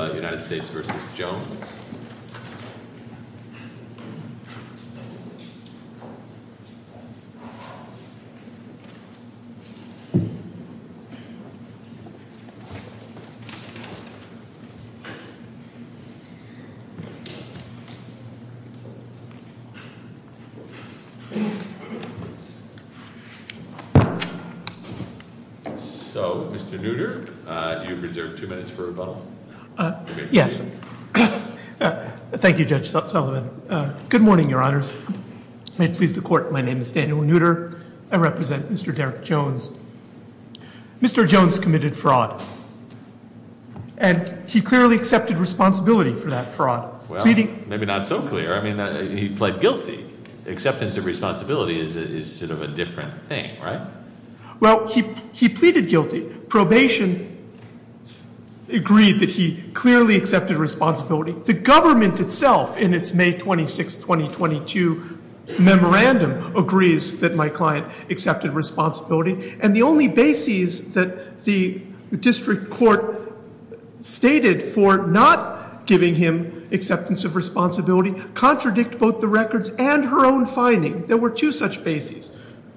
So, Mr. Nutter, you've reserved two minutes for rebuttal. Yes. Thank you, Judge Sullivan. Good morning, Your Honors. May it please the Court, my name is Daniel Nutter. I represent Mr. Derek Jones. Mr. Jones committed fraud. And he clearly accepted responsibility for that fraud. Well, maybe not so clear. I mean, he pled guilty. Acceptance of responsibility is sort of a different thing, right? Well, he pleaded guilty. Probation agreed that he clearly accepted responsibility. The government itself, in its May 26, 2022 memorandum, agrees that my client accepted responsibility. And the only bases that the district court stated for not giving him acceptance of responsibility contradict both the records and her own finding. There were two such bases.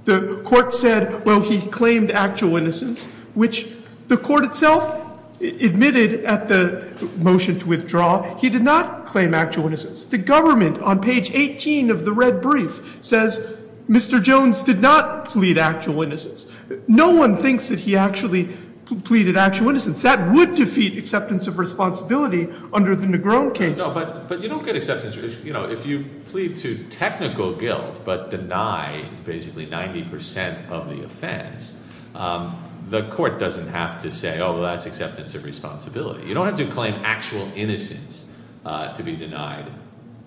The court said, well, he claimed actual innocence, which the court itself admitted at the motion to withdraw. He did not claim actual innocence. The government, on page 18 of the red brief, says Mr. Jones did not plead actual innocence. No one thinks that he actually pleaded actual innocence. That would defeat acceptance of responsibility under the Negron case. But you don't get acceptance. If you plead to technical guilt but deny basically 90% of the offense, the court doesn't have to say, oh, well, that's acceptance of responsibility. You don't have to claim actual innocence to be denied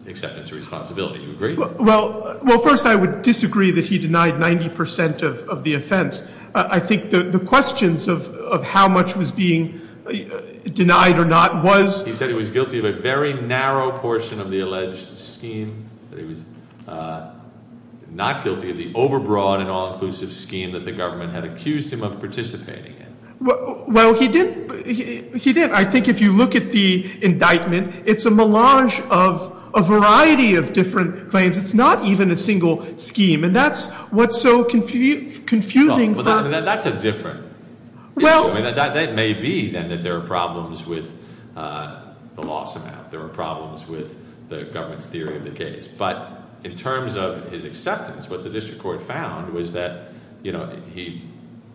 acceptance of responsibility. Do you agree? Well, first, I would disagree that he denied 90% of the offense. I think the questions of how much was being denied or not was- The narrow portion of the alleged scheme that he was not guilty of the overbroad and all-inclusive scheme that the government had accused him of participating in. Well, he did. I think if you look at the indictment, it's a melange of a variety of different claims. It's not even a single scheme. And that's what's so confusing for- That's a different issue. That may be, then, that there are problems with the loss amount. There are problems with the government's theory of the case. But in terms of his acceptance, what the district court found was that he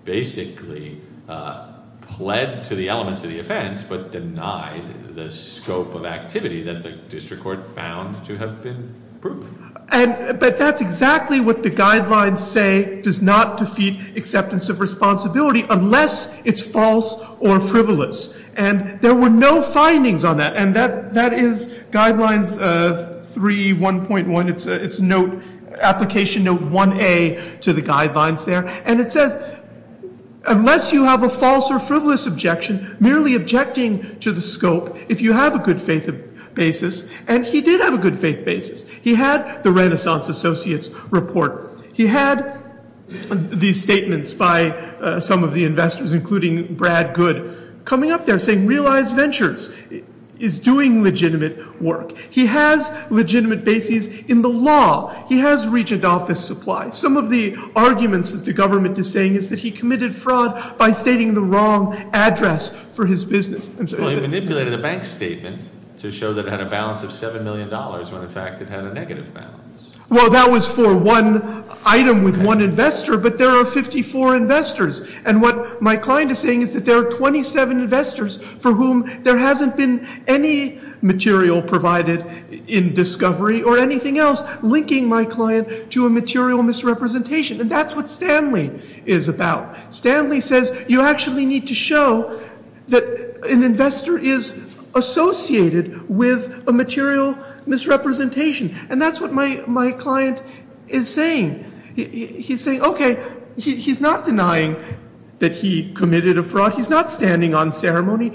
basically pled to the elements of the offense but denied the scope of activity that the district court found to have been proven. But that's exactly what the guidelines say does not defeat acceptance of responsibility unless it's false or frivolous. And there were no findings on that. And that is Guidelines 3.1.1. It's Application Note 1A to the guidelines there. And it says, unless you have a false or frivolous objection, merely objecting to the scope, if you have a good faith basis. And he did have a good faith basis. He had the Renaissance Associates report. He had these statements by some of the investors, including Brad Good, coming up there saying realized ventures is doing legitimate work. He has legitimate basis in the law. He has regent office supply. Some of the arguments that the government is saying is that he committed fraud by stating the wrong address for his business. Well, he manipulated a bank statement to show that it had a balance of $7 million when, in fact, it had a negative balance. Well, that was for one item with one investor. But there are 54 investors. And what my client is saying is that there are 27 investors for whom there hasn't been any material provided in discovery or anything else linking my client to a material misrepresentation. And that's what Stanley is about. Stanley says you actually need to show that an investor is associated with a material misrepresentation. And that's what my client is saying. He's saying, okay, he's not denying that he committed a fraud. He's not standing on ceremony.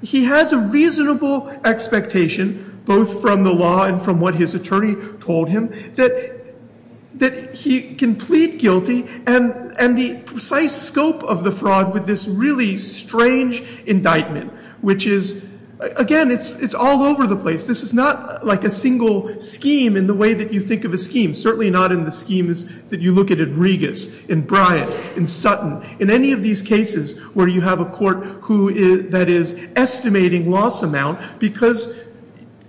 He has a reasonable expectation, both from the law and from what his attorney told him, that he can plead guilty. And the precise scope of the fraud with this really strange indictment, which is, again, it's all over the place. This is not like a single scheme in the way that you think of a scheme, certainly not in the schemes that you look at in Regas, in Bryant, in Sutton. In any of these cases where you have a court that is estimating loss amount because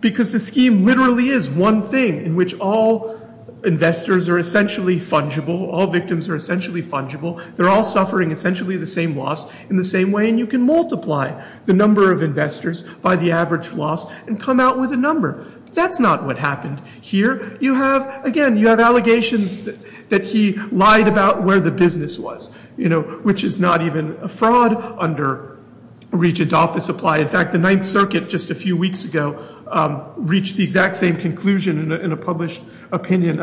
the scheme literally is one thing in which all investors are essentially fungible, all victims are essentially fungible. They're all suffering essentially the same loss in the same way. And you can multiply the number of investors by the average loss and come out with a number. That's not what happened here. You have, again, you have allegations that he lied about where the business was, you know, which is not even a fraud under regent office supply. In fact, the Ninth Circuit just a few weeks ago reached the exact same conclusion in a published opinion,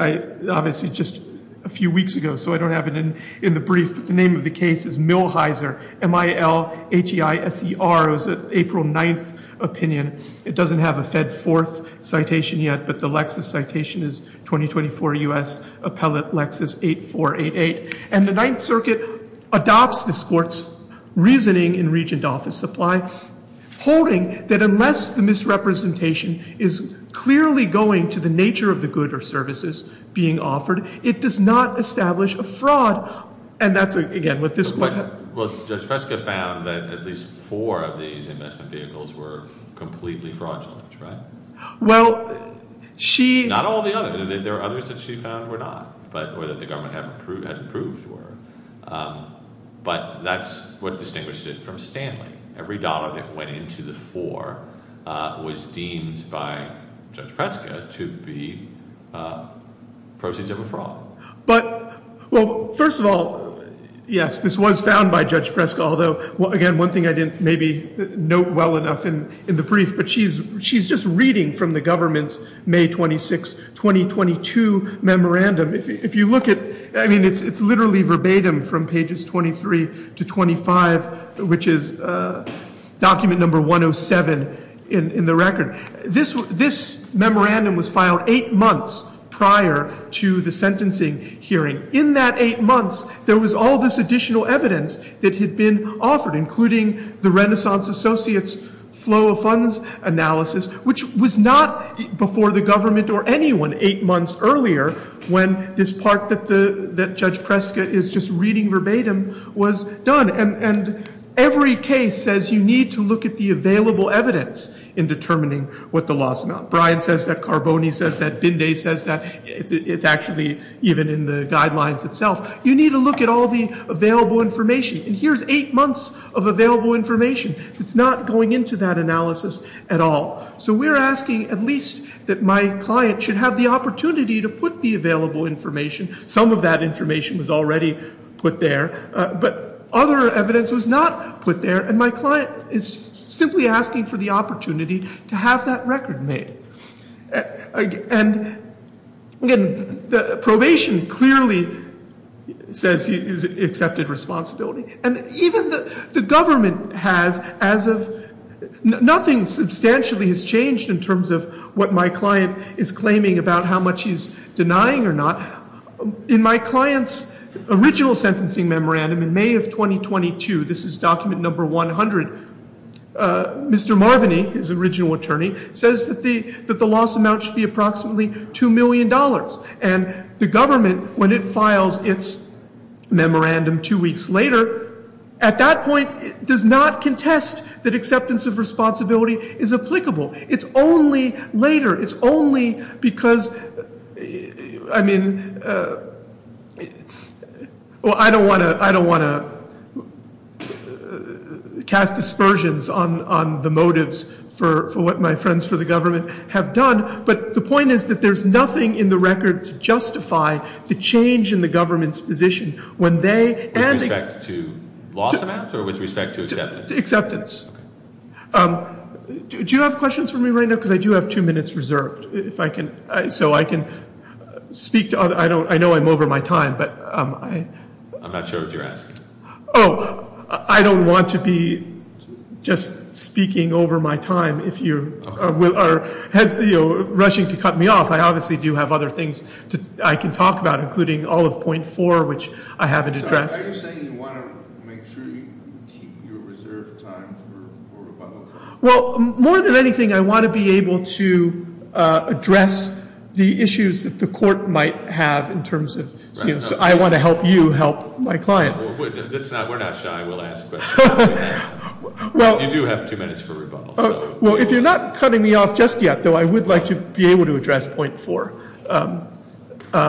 obviously just a few weeks ago. So I don't have it in the brief. But the name of the case is Millhiser, M-I-L-H-E-I-S-E-R. It was an April 9th opinion. It doesn't have a Fed Fourth citation yet, but the Lexis citation is 2024 U.S. Appellate Lexis 8488. And the Ninth Circuit adopts this court's reasoning in regent office supply, holding that unless the misrepresentation is clearly going to the nature of the good or services being offered, it does not establish a fraud. And that's, again, what this— Well, Judge Preska found that at least four of these investment vehicles were completely fraudulent, right? Well, she— Not all the others. There are others that she found were not or that the government hadn't proved were. But that's what distinguished it from Stanley. Every dollar that went into the four was deemed by Judge Preska to be proceeds of a fraud. But—well, first of all, yes, this was found by Judge Preska. Although, again, one thing I didn't maybe note well enough in the brief, but she's just reading from the government's May 26, 2022 memorandum. If you look at—I mean, it's literally verbatim from pages 23 to 25, which is document number 107 in the record. This memorandum was filed eight months prior to the sentencing hearing. In that eight months, there was all this additional evidence that had been offered, including the Renaissance Associates flow of funds analysis, which was not before the government or anyone eight months earlier when this part that Judge Preska is just reading verbatim was done. And every case says you need to look at the available evidence in determining what the law is not. Bryan says that. Carboni says that. Binday says that. It's actually even in the guidelines itself. You need to look at all the available information. And here's eight months of available information that's not going into that analysis at all. So we're asking at least that my client should have the opportunity to put the available information. Some of that information was already put there. But other evidence was not put there. And my client is simply asking for the opportunity to have that record made. And again, the probation clearly says he's accepted responsibility. And even the government has as of—nothing substantially has changed in terms of what my client is claiming about how much he's denying or not. In my client's original sentencing memorandum in May of 2022, this is document number 100, Mr. Marvini, his original attorney, says that the loss amount should be approximately $2 million. And the government, when it files its memorandum two weeks later, at that point does not contest that acceptance of responsibility is applicable. It's only later. It's only because—I mean, well, I don't want to cast dispersions on the motives for what my friends for the government have done. But the point is that there's nothing in the record to justify the change in the government's position when they— With respect to loss amount or with respect to acceptance? Acceptance. Do you have questions for me right now? Because I do have two minutes reserved. If I can—so I can speak to other—I know I'm over my time, but I— I'm not sure what you're asking. Oh, I don't want to be just speaking over my time. If you are rushing to cut me off, I obviously do have other things I can talk about, including all of point four, which I haven't addressed. Are you saying you want to make sure you keep your reserved time for rebuttal? Well, more than anything, I want to be able to address the issues that the court might have in terms of—I want to help you help my client. We're not shy. We'll ask questions. You do have two minutes for rebuttal. Well, if you're not cutting me off just yet, though, I would like to be able to address point four,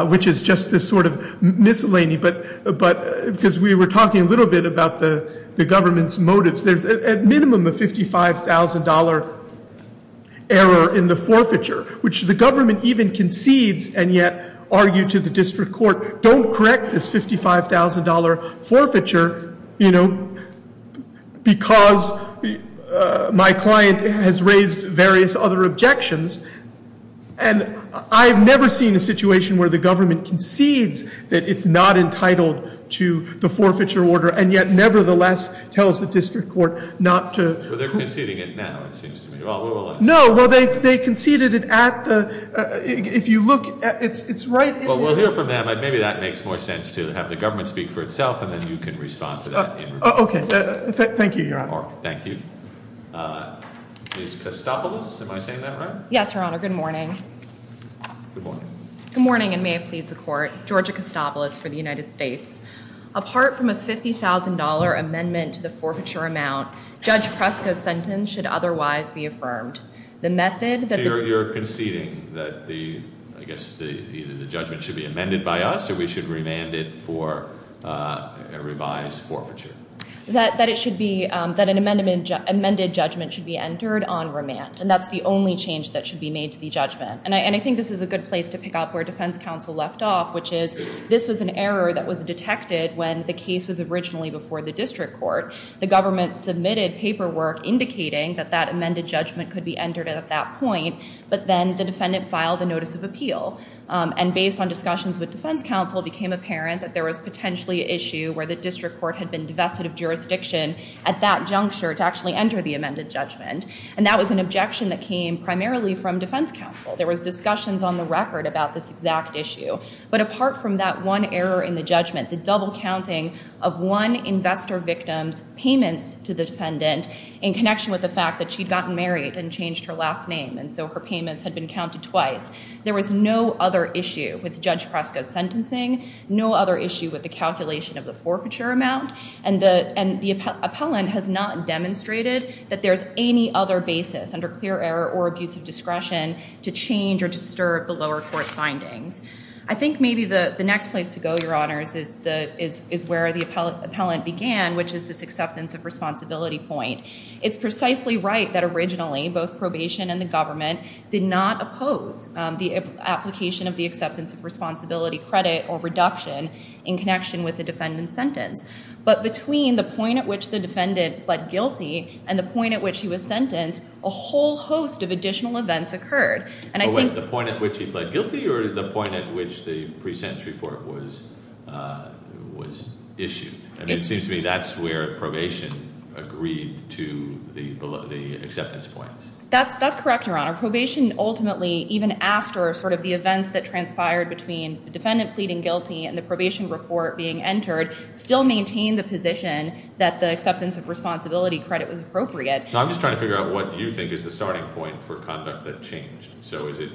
which is just this sort of miscellany, because we were talking a little bit about the government's motives. There's a minimum of $55,000 error in the forfeiture, which the government even concedes and yet argue to the district court, don't correct this $55,000 forfeiture because my client has raised various other objections. And I've never seen a situation where the government concedes that it's not entitled to the forfeiture order and yet nevertheless tells the district court not to— Well, they're conceding it now, it seems to me. No, well, they conceded it at the—if you look, it's right— Well, we'll hear from them. Maybe that makes more sense to have the government speak for itself and then you can respond to that. Okay. Thank you, Your Honor. Thank you. Ms. Kostopoulos, am I saying that right? Yes, Your Honor. Good morning. Good morning. Good morning, and may it please the Court. Georgia Kostopoulos for the United States. Apart from a $50,000 amendment to the forfeiture amount, Judge Preska's sentence should otherwise be affirmed. The method that the— That it should be amended by us or we should remand it for a revised forfeiture? That it should be—that an amended judgment should be entered on remand, and that's the only change that should be made to the judgment. And I think this is a good place to pick up where defense counsel left off, which is this was an error that was detected when the case was originally before the district court. The government submitted paperwork indicating that that amended judgment could be entered at that point, but then the defendant filed a notice of appeal. And based on discussions with defense counsel, it became apparent that there was potentially an issue where the district court had been divested of jurisdiction at that juncture to actually enter the amended judgment. And that was an objection that came primarily from defense counsel. There was discussions on the record about this exact issue. But apart from that one error in the judgment, the double counting of one investor victim's payments to the defendant in connection with the fact that she'd gotten married and changed her last name, and so her payments had been counted twice, there was no other issue with Judge Preska's sentencing, no other issue with the calculation of the forfeiture amount, and the appellant has not demonstrated that there's any other basis under clear error or abusive discretion to change or disturb the lower court's findings. I think maybe the next place to go, Your Honors, is where the appellant began, which is this acceptance of responsibility point. It's precisely right that originally both probation and the government did not oppose the application of the acceptance of responsibility credit or reduction in connection with the defendant's sentence. But between the point at which the defendant pled guilty and the point at which he was sentenced, a whole host of additional events occurred. And I think... The point at which he pled guilty or the point at which the pre-sentence report was issued? I mean, it seems to me that's where probation agreed to the acceptance points. That's correct, Your Honor. Probation ultimately, even after sort of the events that transpired between the defendant pleading guilty and the probation report being entered, still maintained the position that the acceptance of responsibility credit was appropriate. I'm just trying to figure out what you think is the starting point for conduct that changed. So is it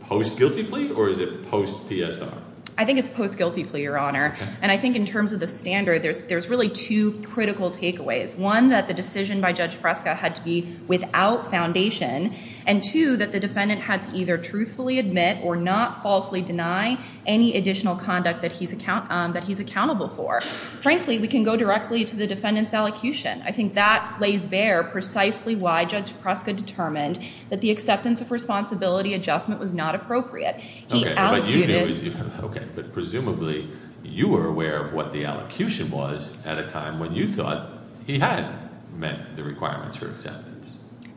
post-guilty plea or is it post-PSR? I think it's post-guilty plea, Your Honor. And I think in terms of the standard, there's really two critical takeaways. One, that the decision by Judge Preska had to be without foundation. And two, that the defendant had to either truthfully admit or not falsely deny any additional conduct that he's accountable for. Frankly, we can go directly to the defendant's allocution. I think that lays bare precisely why Judge Preska determined that the acceptance of responsibility adjustment was not appropriate. Okay, but presumably you were aware of what the allocution was at a time when you thought he had met the requirements for acceptance.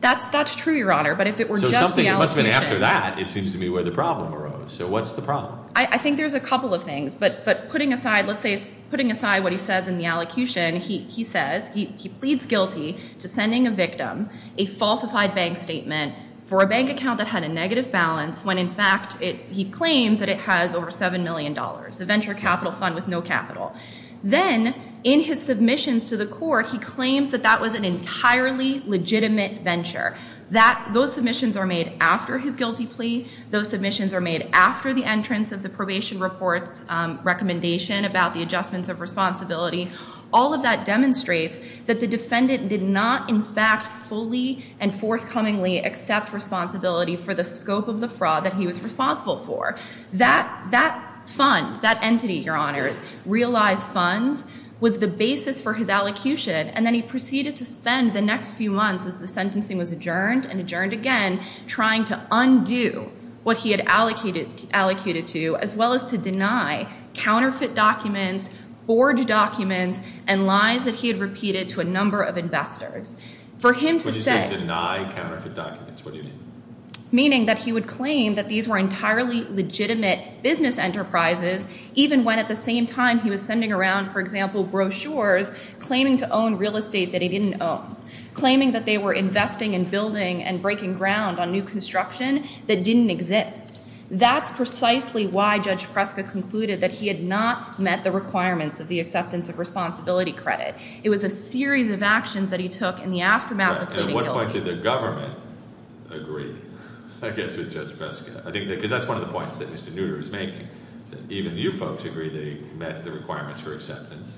That's true, Your Honor, but if it were just the allocution. So something must have been after that, it seems to me, where the problem arose. So what's the problem? I think there's a couple of things. But putting aside, let's say, putting aside what he says in the allocution, he says he pleads guilty to sending a victim a falsified bank statement for a bank account that had a negative balance when, in fact, he claims that it has over $7 million, a venture capital fund with no capital. Then, in his submissions to the court, he claims that that was an entirely legitimate venture. Those submissions are made after his guilty plea. Those submissions are made after the entrance of the probation report's recommendation about the adjustments of responsibility. All of that demonstrates that the defendant did not, in fact, fully and forthcomingly accept responsibility for the scope of the fraud that he was responsible for. That fund, that entity, Your Honors, realized funds was the basis for his allocution, and then he proceeded to spend the next few months, as the sentencing was adjourned and adjourned again, trying to undo what he had allocated to as well as to deny counterfeit documents, forged documents, and lies that he had repeated to a number of investors. For him to say— What do you mean, deny counterfeit documents? What do you mean? Meaning that he would claim that these were entirely legitimate business enterprises, even when at the same time he was sending around, for example, brochures claiming to own real estate that he didn't own, claiming that they were investing in building and breaking ground on new construction that didn't exist. That's precisely why Judge Preska concluded that he had not met the requirements of the acceptance of responsibility credit. It was a series of actions that he took in the aftermath of pleading guilty. And at what point did the government agree, I guess, with Judge Preska? Because that's one of the points that Mr. Nutter is making, is that even you folks agree they met the requirements for acceptance,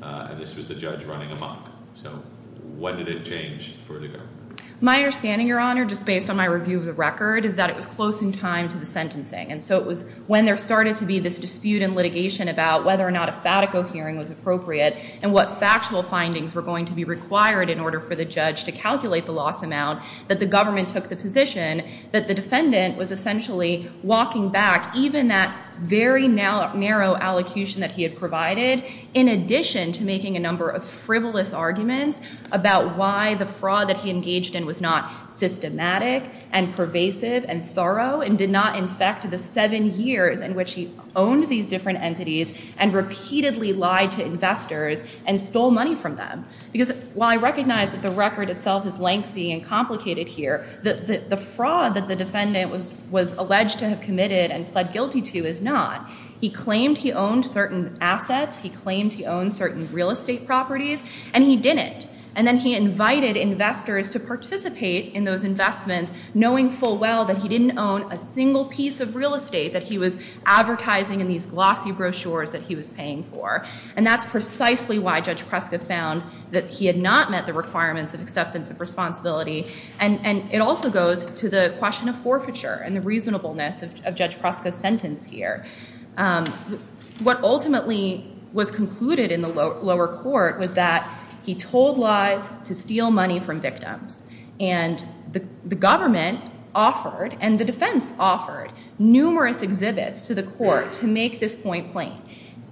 and this was the judge running amok. So when did it change for the government? My understanding, Your Honor, just based on my review of the record, is that it was close in time to the sentencing. And so it was when there started to be this dispute in litigation about whether or not a FATICO hearing was appropriate and what factual findings were going to be required in order for the judge to calculate the loss amount, that the government took the position that the defendant was essentially walking back, even that very narrow allocution that he had provided, in addition to making a number of frivolous arguments about why the fraud that he engaged in was not systematic and pervasive and thorough and did not infect the seven years in which he owned these different entities and repeatedly lied to investors and stole money from them. Because while I recognize that the record itself is lengthy and complicated here, the fraud that the defendant was alleged to have committed and pled guilty to is not. He claimed he owned certain assets, he claimed he owned certain real estate properties, and he didn't. And then he invited investors to participate in those investments, knowing full well that he didn't own a single piece of real estate that he was advertising in these glossy brochures that he was paying for. And that's precisely why Judge Preska found that he had not met the requirements of acceptance of responsibility. And it also goes to the question of forfeiture and the reasonableness of Judge Preska's sentence here. What ultimately was concluded in the lower court was that he told lies to steal money from victims. And the government offered and the defense offered numerous exhibits to the court to make this point plain.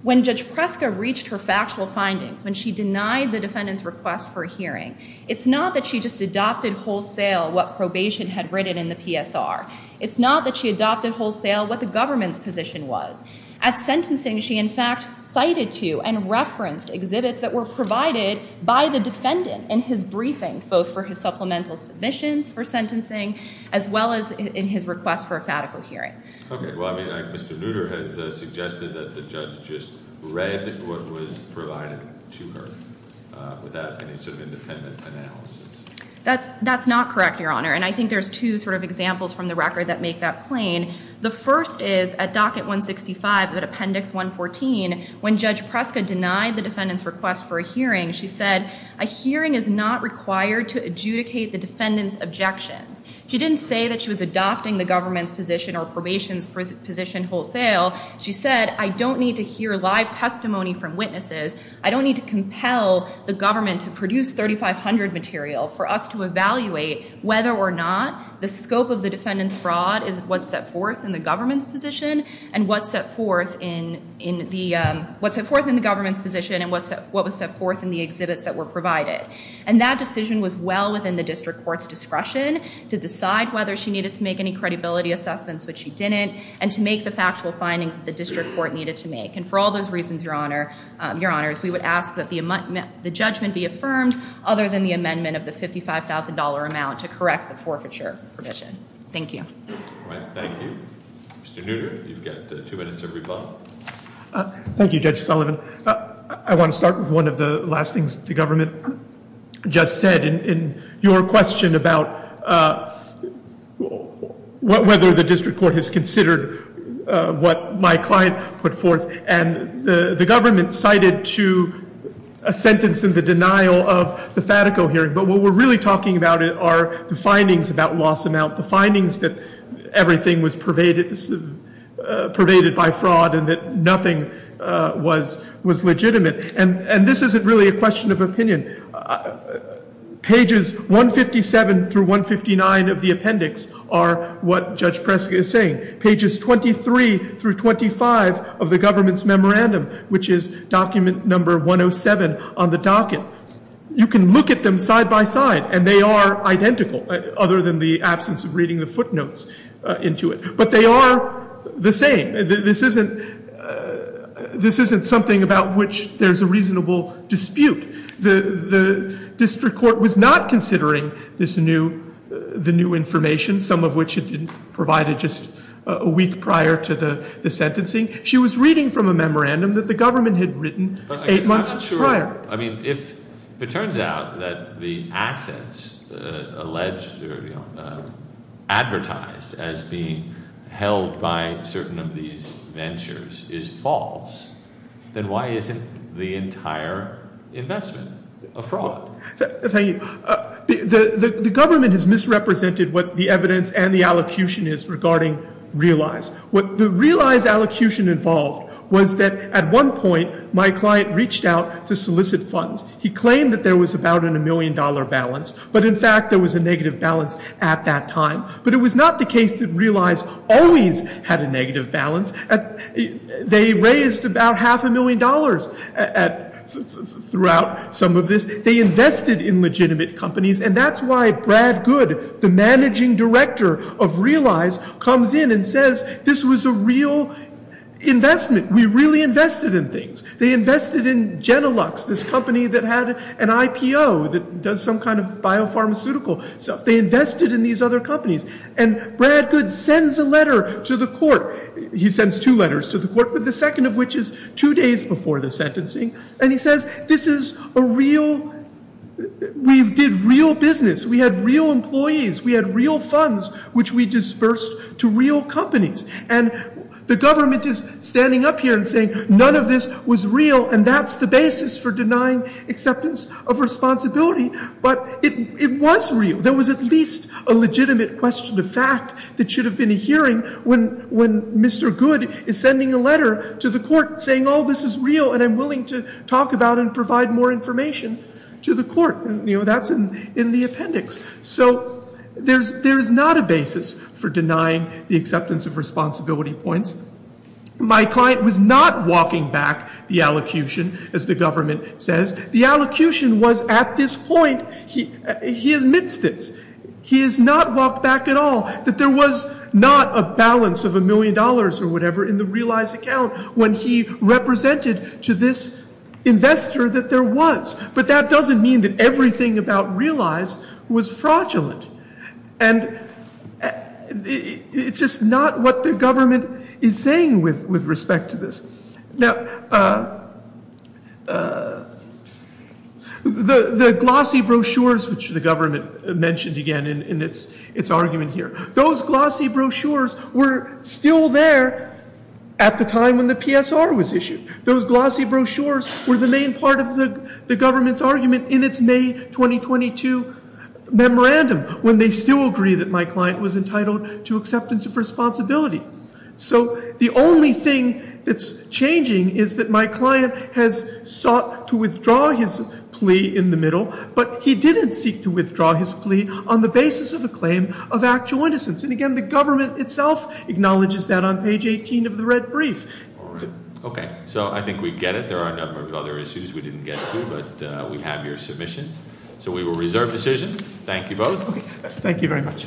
When Judge Preska reached her factual findings, when she denied the defendant's request for a hearing, it's not that she just adopted wholesale what probation had written in the PSR. It's not that she adopted wholesale what the government's position was. At sentencing, she in fact cited to and referenced exhibits that were provided by the defendant in his briefings, both for his supplemental submissions for sentencing as well as in his request for a fatical hearing. OK. Well, I mean, Mr. Lutter has suggested that the judge just read what was provided to her without any sort of independent analysis. That's not correct, Your Honor. And I think there's two sort of examples from the record that make that plain. The first is at docket 165, appendix 114, when Judge Preska denied the defendant's request for a hearing, she said, a hearing is not required to adjudicate the defendant's objections. She didn't say that she was adopting the government's position or probation's position wholesale. She said, I don't need to hear live testimony from witnesses. I don't need to compel the government to produce 3500 material for us to evaluate whether or not the scope of the defendant's fraud is what's set forth in the government's position and what's set forth in the government's position and what was set forth in the exhibits that were provided. And that decision was well within the district court's discretion to decide whether she needed to make any credibility assessments, which she didn't, and to make the factual findings that the district court needed to make. And for all those reasons, Your Honors, we would ask that the judgment be affirmed other than the amendment of the $55,000 amount to correct the forfeiture provision. Thank you. Thank you. Mr. Nutter, you've got two minutes to rebut. Thank you, Judge Sullivan. I want to start with one of the last things the government just said in your question about whether the district court has considered what my client put forth. And the government cited to a sentence in the denial of the Fatico hearing. But what we're really talking about are the findings about loss amount, the findings that everything was pervaded by fraud and that nothing was legitimate. And this isn't really a question of opinion. Pages 157 through 159 of the appendix are what Judge Prescott is saying. Pages 23 through 25 of the government's memorandum, which is document number 107 on the docket, you can look at them side by side and they are identical other than the absence of reading the footnotes into it. But they are the same. This isn't something about which there's a reasonable dispute. The district court was not considering the new information, some of which it provided just a week prior to the sentencing. She was reading from a memorandum that the government had written eight months prior. I mean, if it turns out that the assets alleged or advertised as being held by certain of these ventures is false, then why isn't the entire investment a fraud? The government has misrepresented what the evidence and the allocution is regarding realize. What the realize allocution involved was that at one point my client reached out to solicit funds. He claimed that there was about a million dollar balance. But, in fact, there was a negative balance at that time. But it was not the case that realize always had a negative balance. They raised about half a million dollars throughout some of this. They invested in legitimate companies. And that's why Brad Good, the managing director of realize, comes in and says this was a real investment. We really invested in things. They invested in Genilux, this company that had an IPO that does some kind of biopharmaceutical stuff. They invested in these other companies. And Brad Good sends a letter to the court. He sends two letters to the court, but the second of which is two days before the sentencing. And he says this is a real, we did real business. We had real employees. We had real funds which we dispersed to real companies. And the government is standing up here and saying none of this was real. And that's the basis for denying acceptance of responsibility. But it was real. There was at least a legitimate question of fact that should have been a hearing when Mr. Good is sending a letter to the court saying, oh, this is real and I'm willing to talk about it and provide more information to the court. That's in the appendix. So there is not a basis for denying the acceptance of responsibility points. My client was not walking back the allocution, as the government says. The allocution was at this point, he admits this, he has not walked back at all, that there was not a balance of a million dollars or whatever in the realized account when he represented to this investor that there was. But that doesn't mean that everything about realize was fraudulent. And it's just not what the government is saying with respect to this. Now, the glossy brochures which the government mentioned again in its argument here, those glossy brochures were still there at the time when the PSR was issued. Those glossy brochures were the main part of the government's argument in its May 2022 memorandum when they still agree that my client was entitled to acceptance of responsibility. So the only thing that's changing is that my client has sought to withdraw his plea in the middle, but he didn't seek to withdraw his plea on the basis of a claim of actual innocence. And again, the government itself acknowledges that on page 18 of the red brief. All right. Okay. So I think we get it. There are a number of other issues we didn't get to, but we have your submissions. So we will reserve decision. Thank you both. Thank you very much.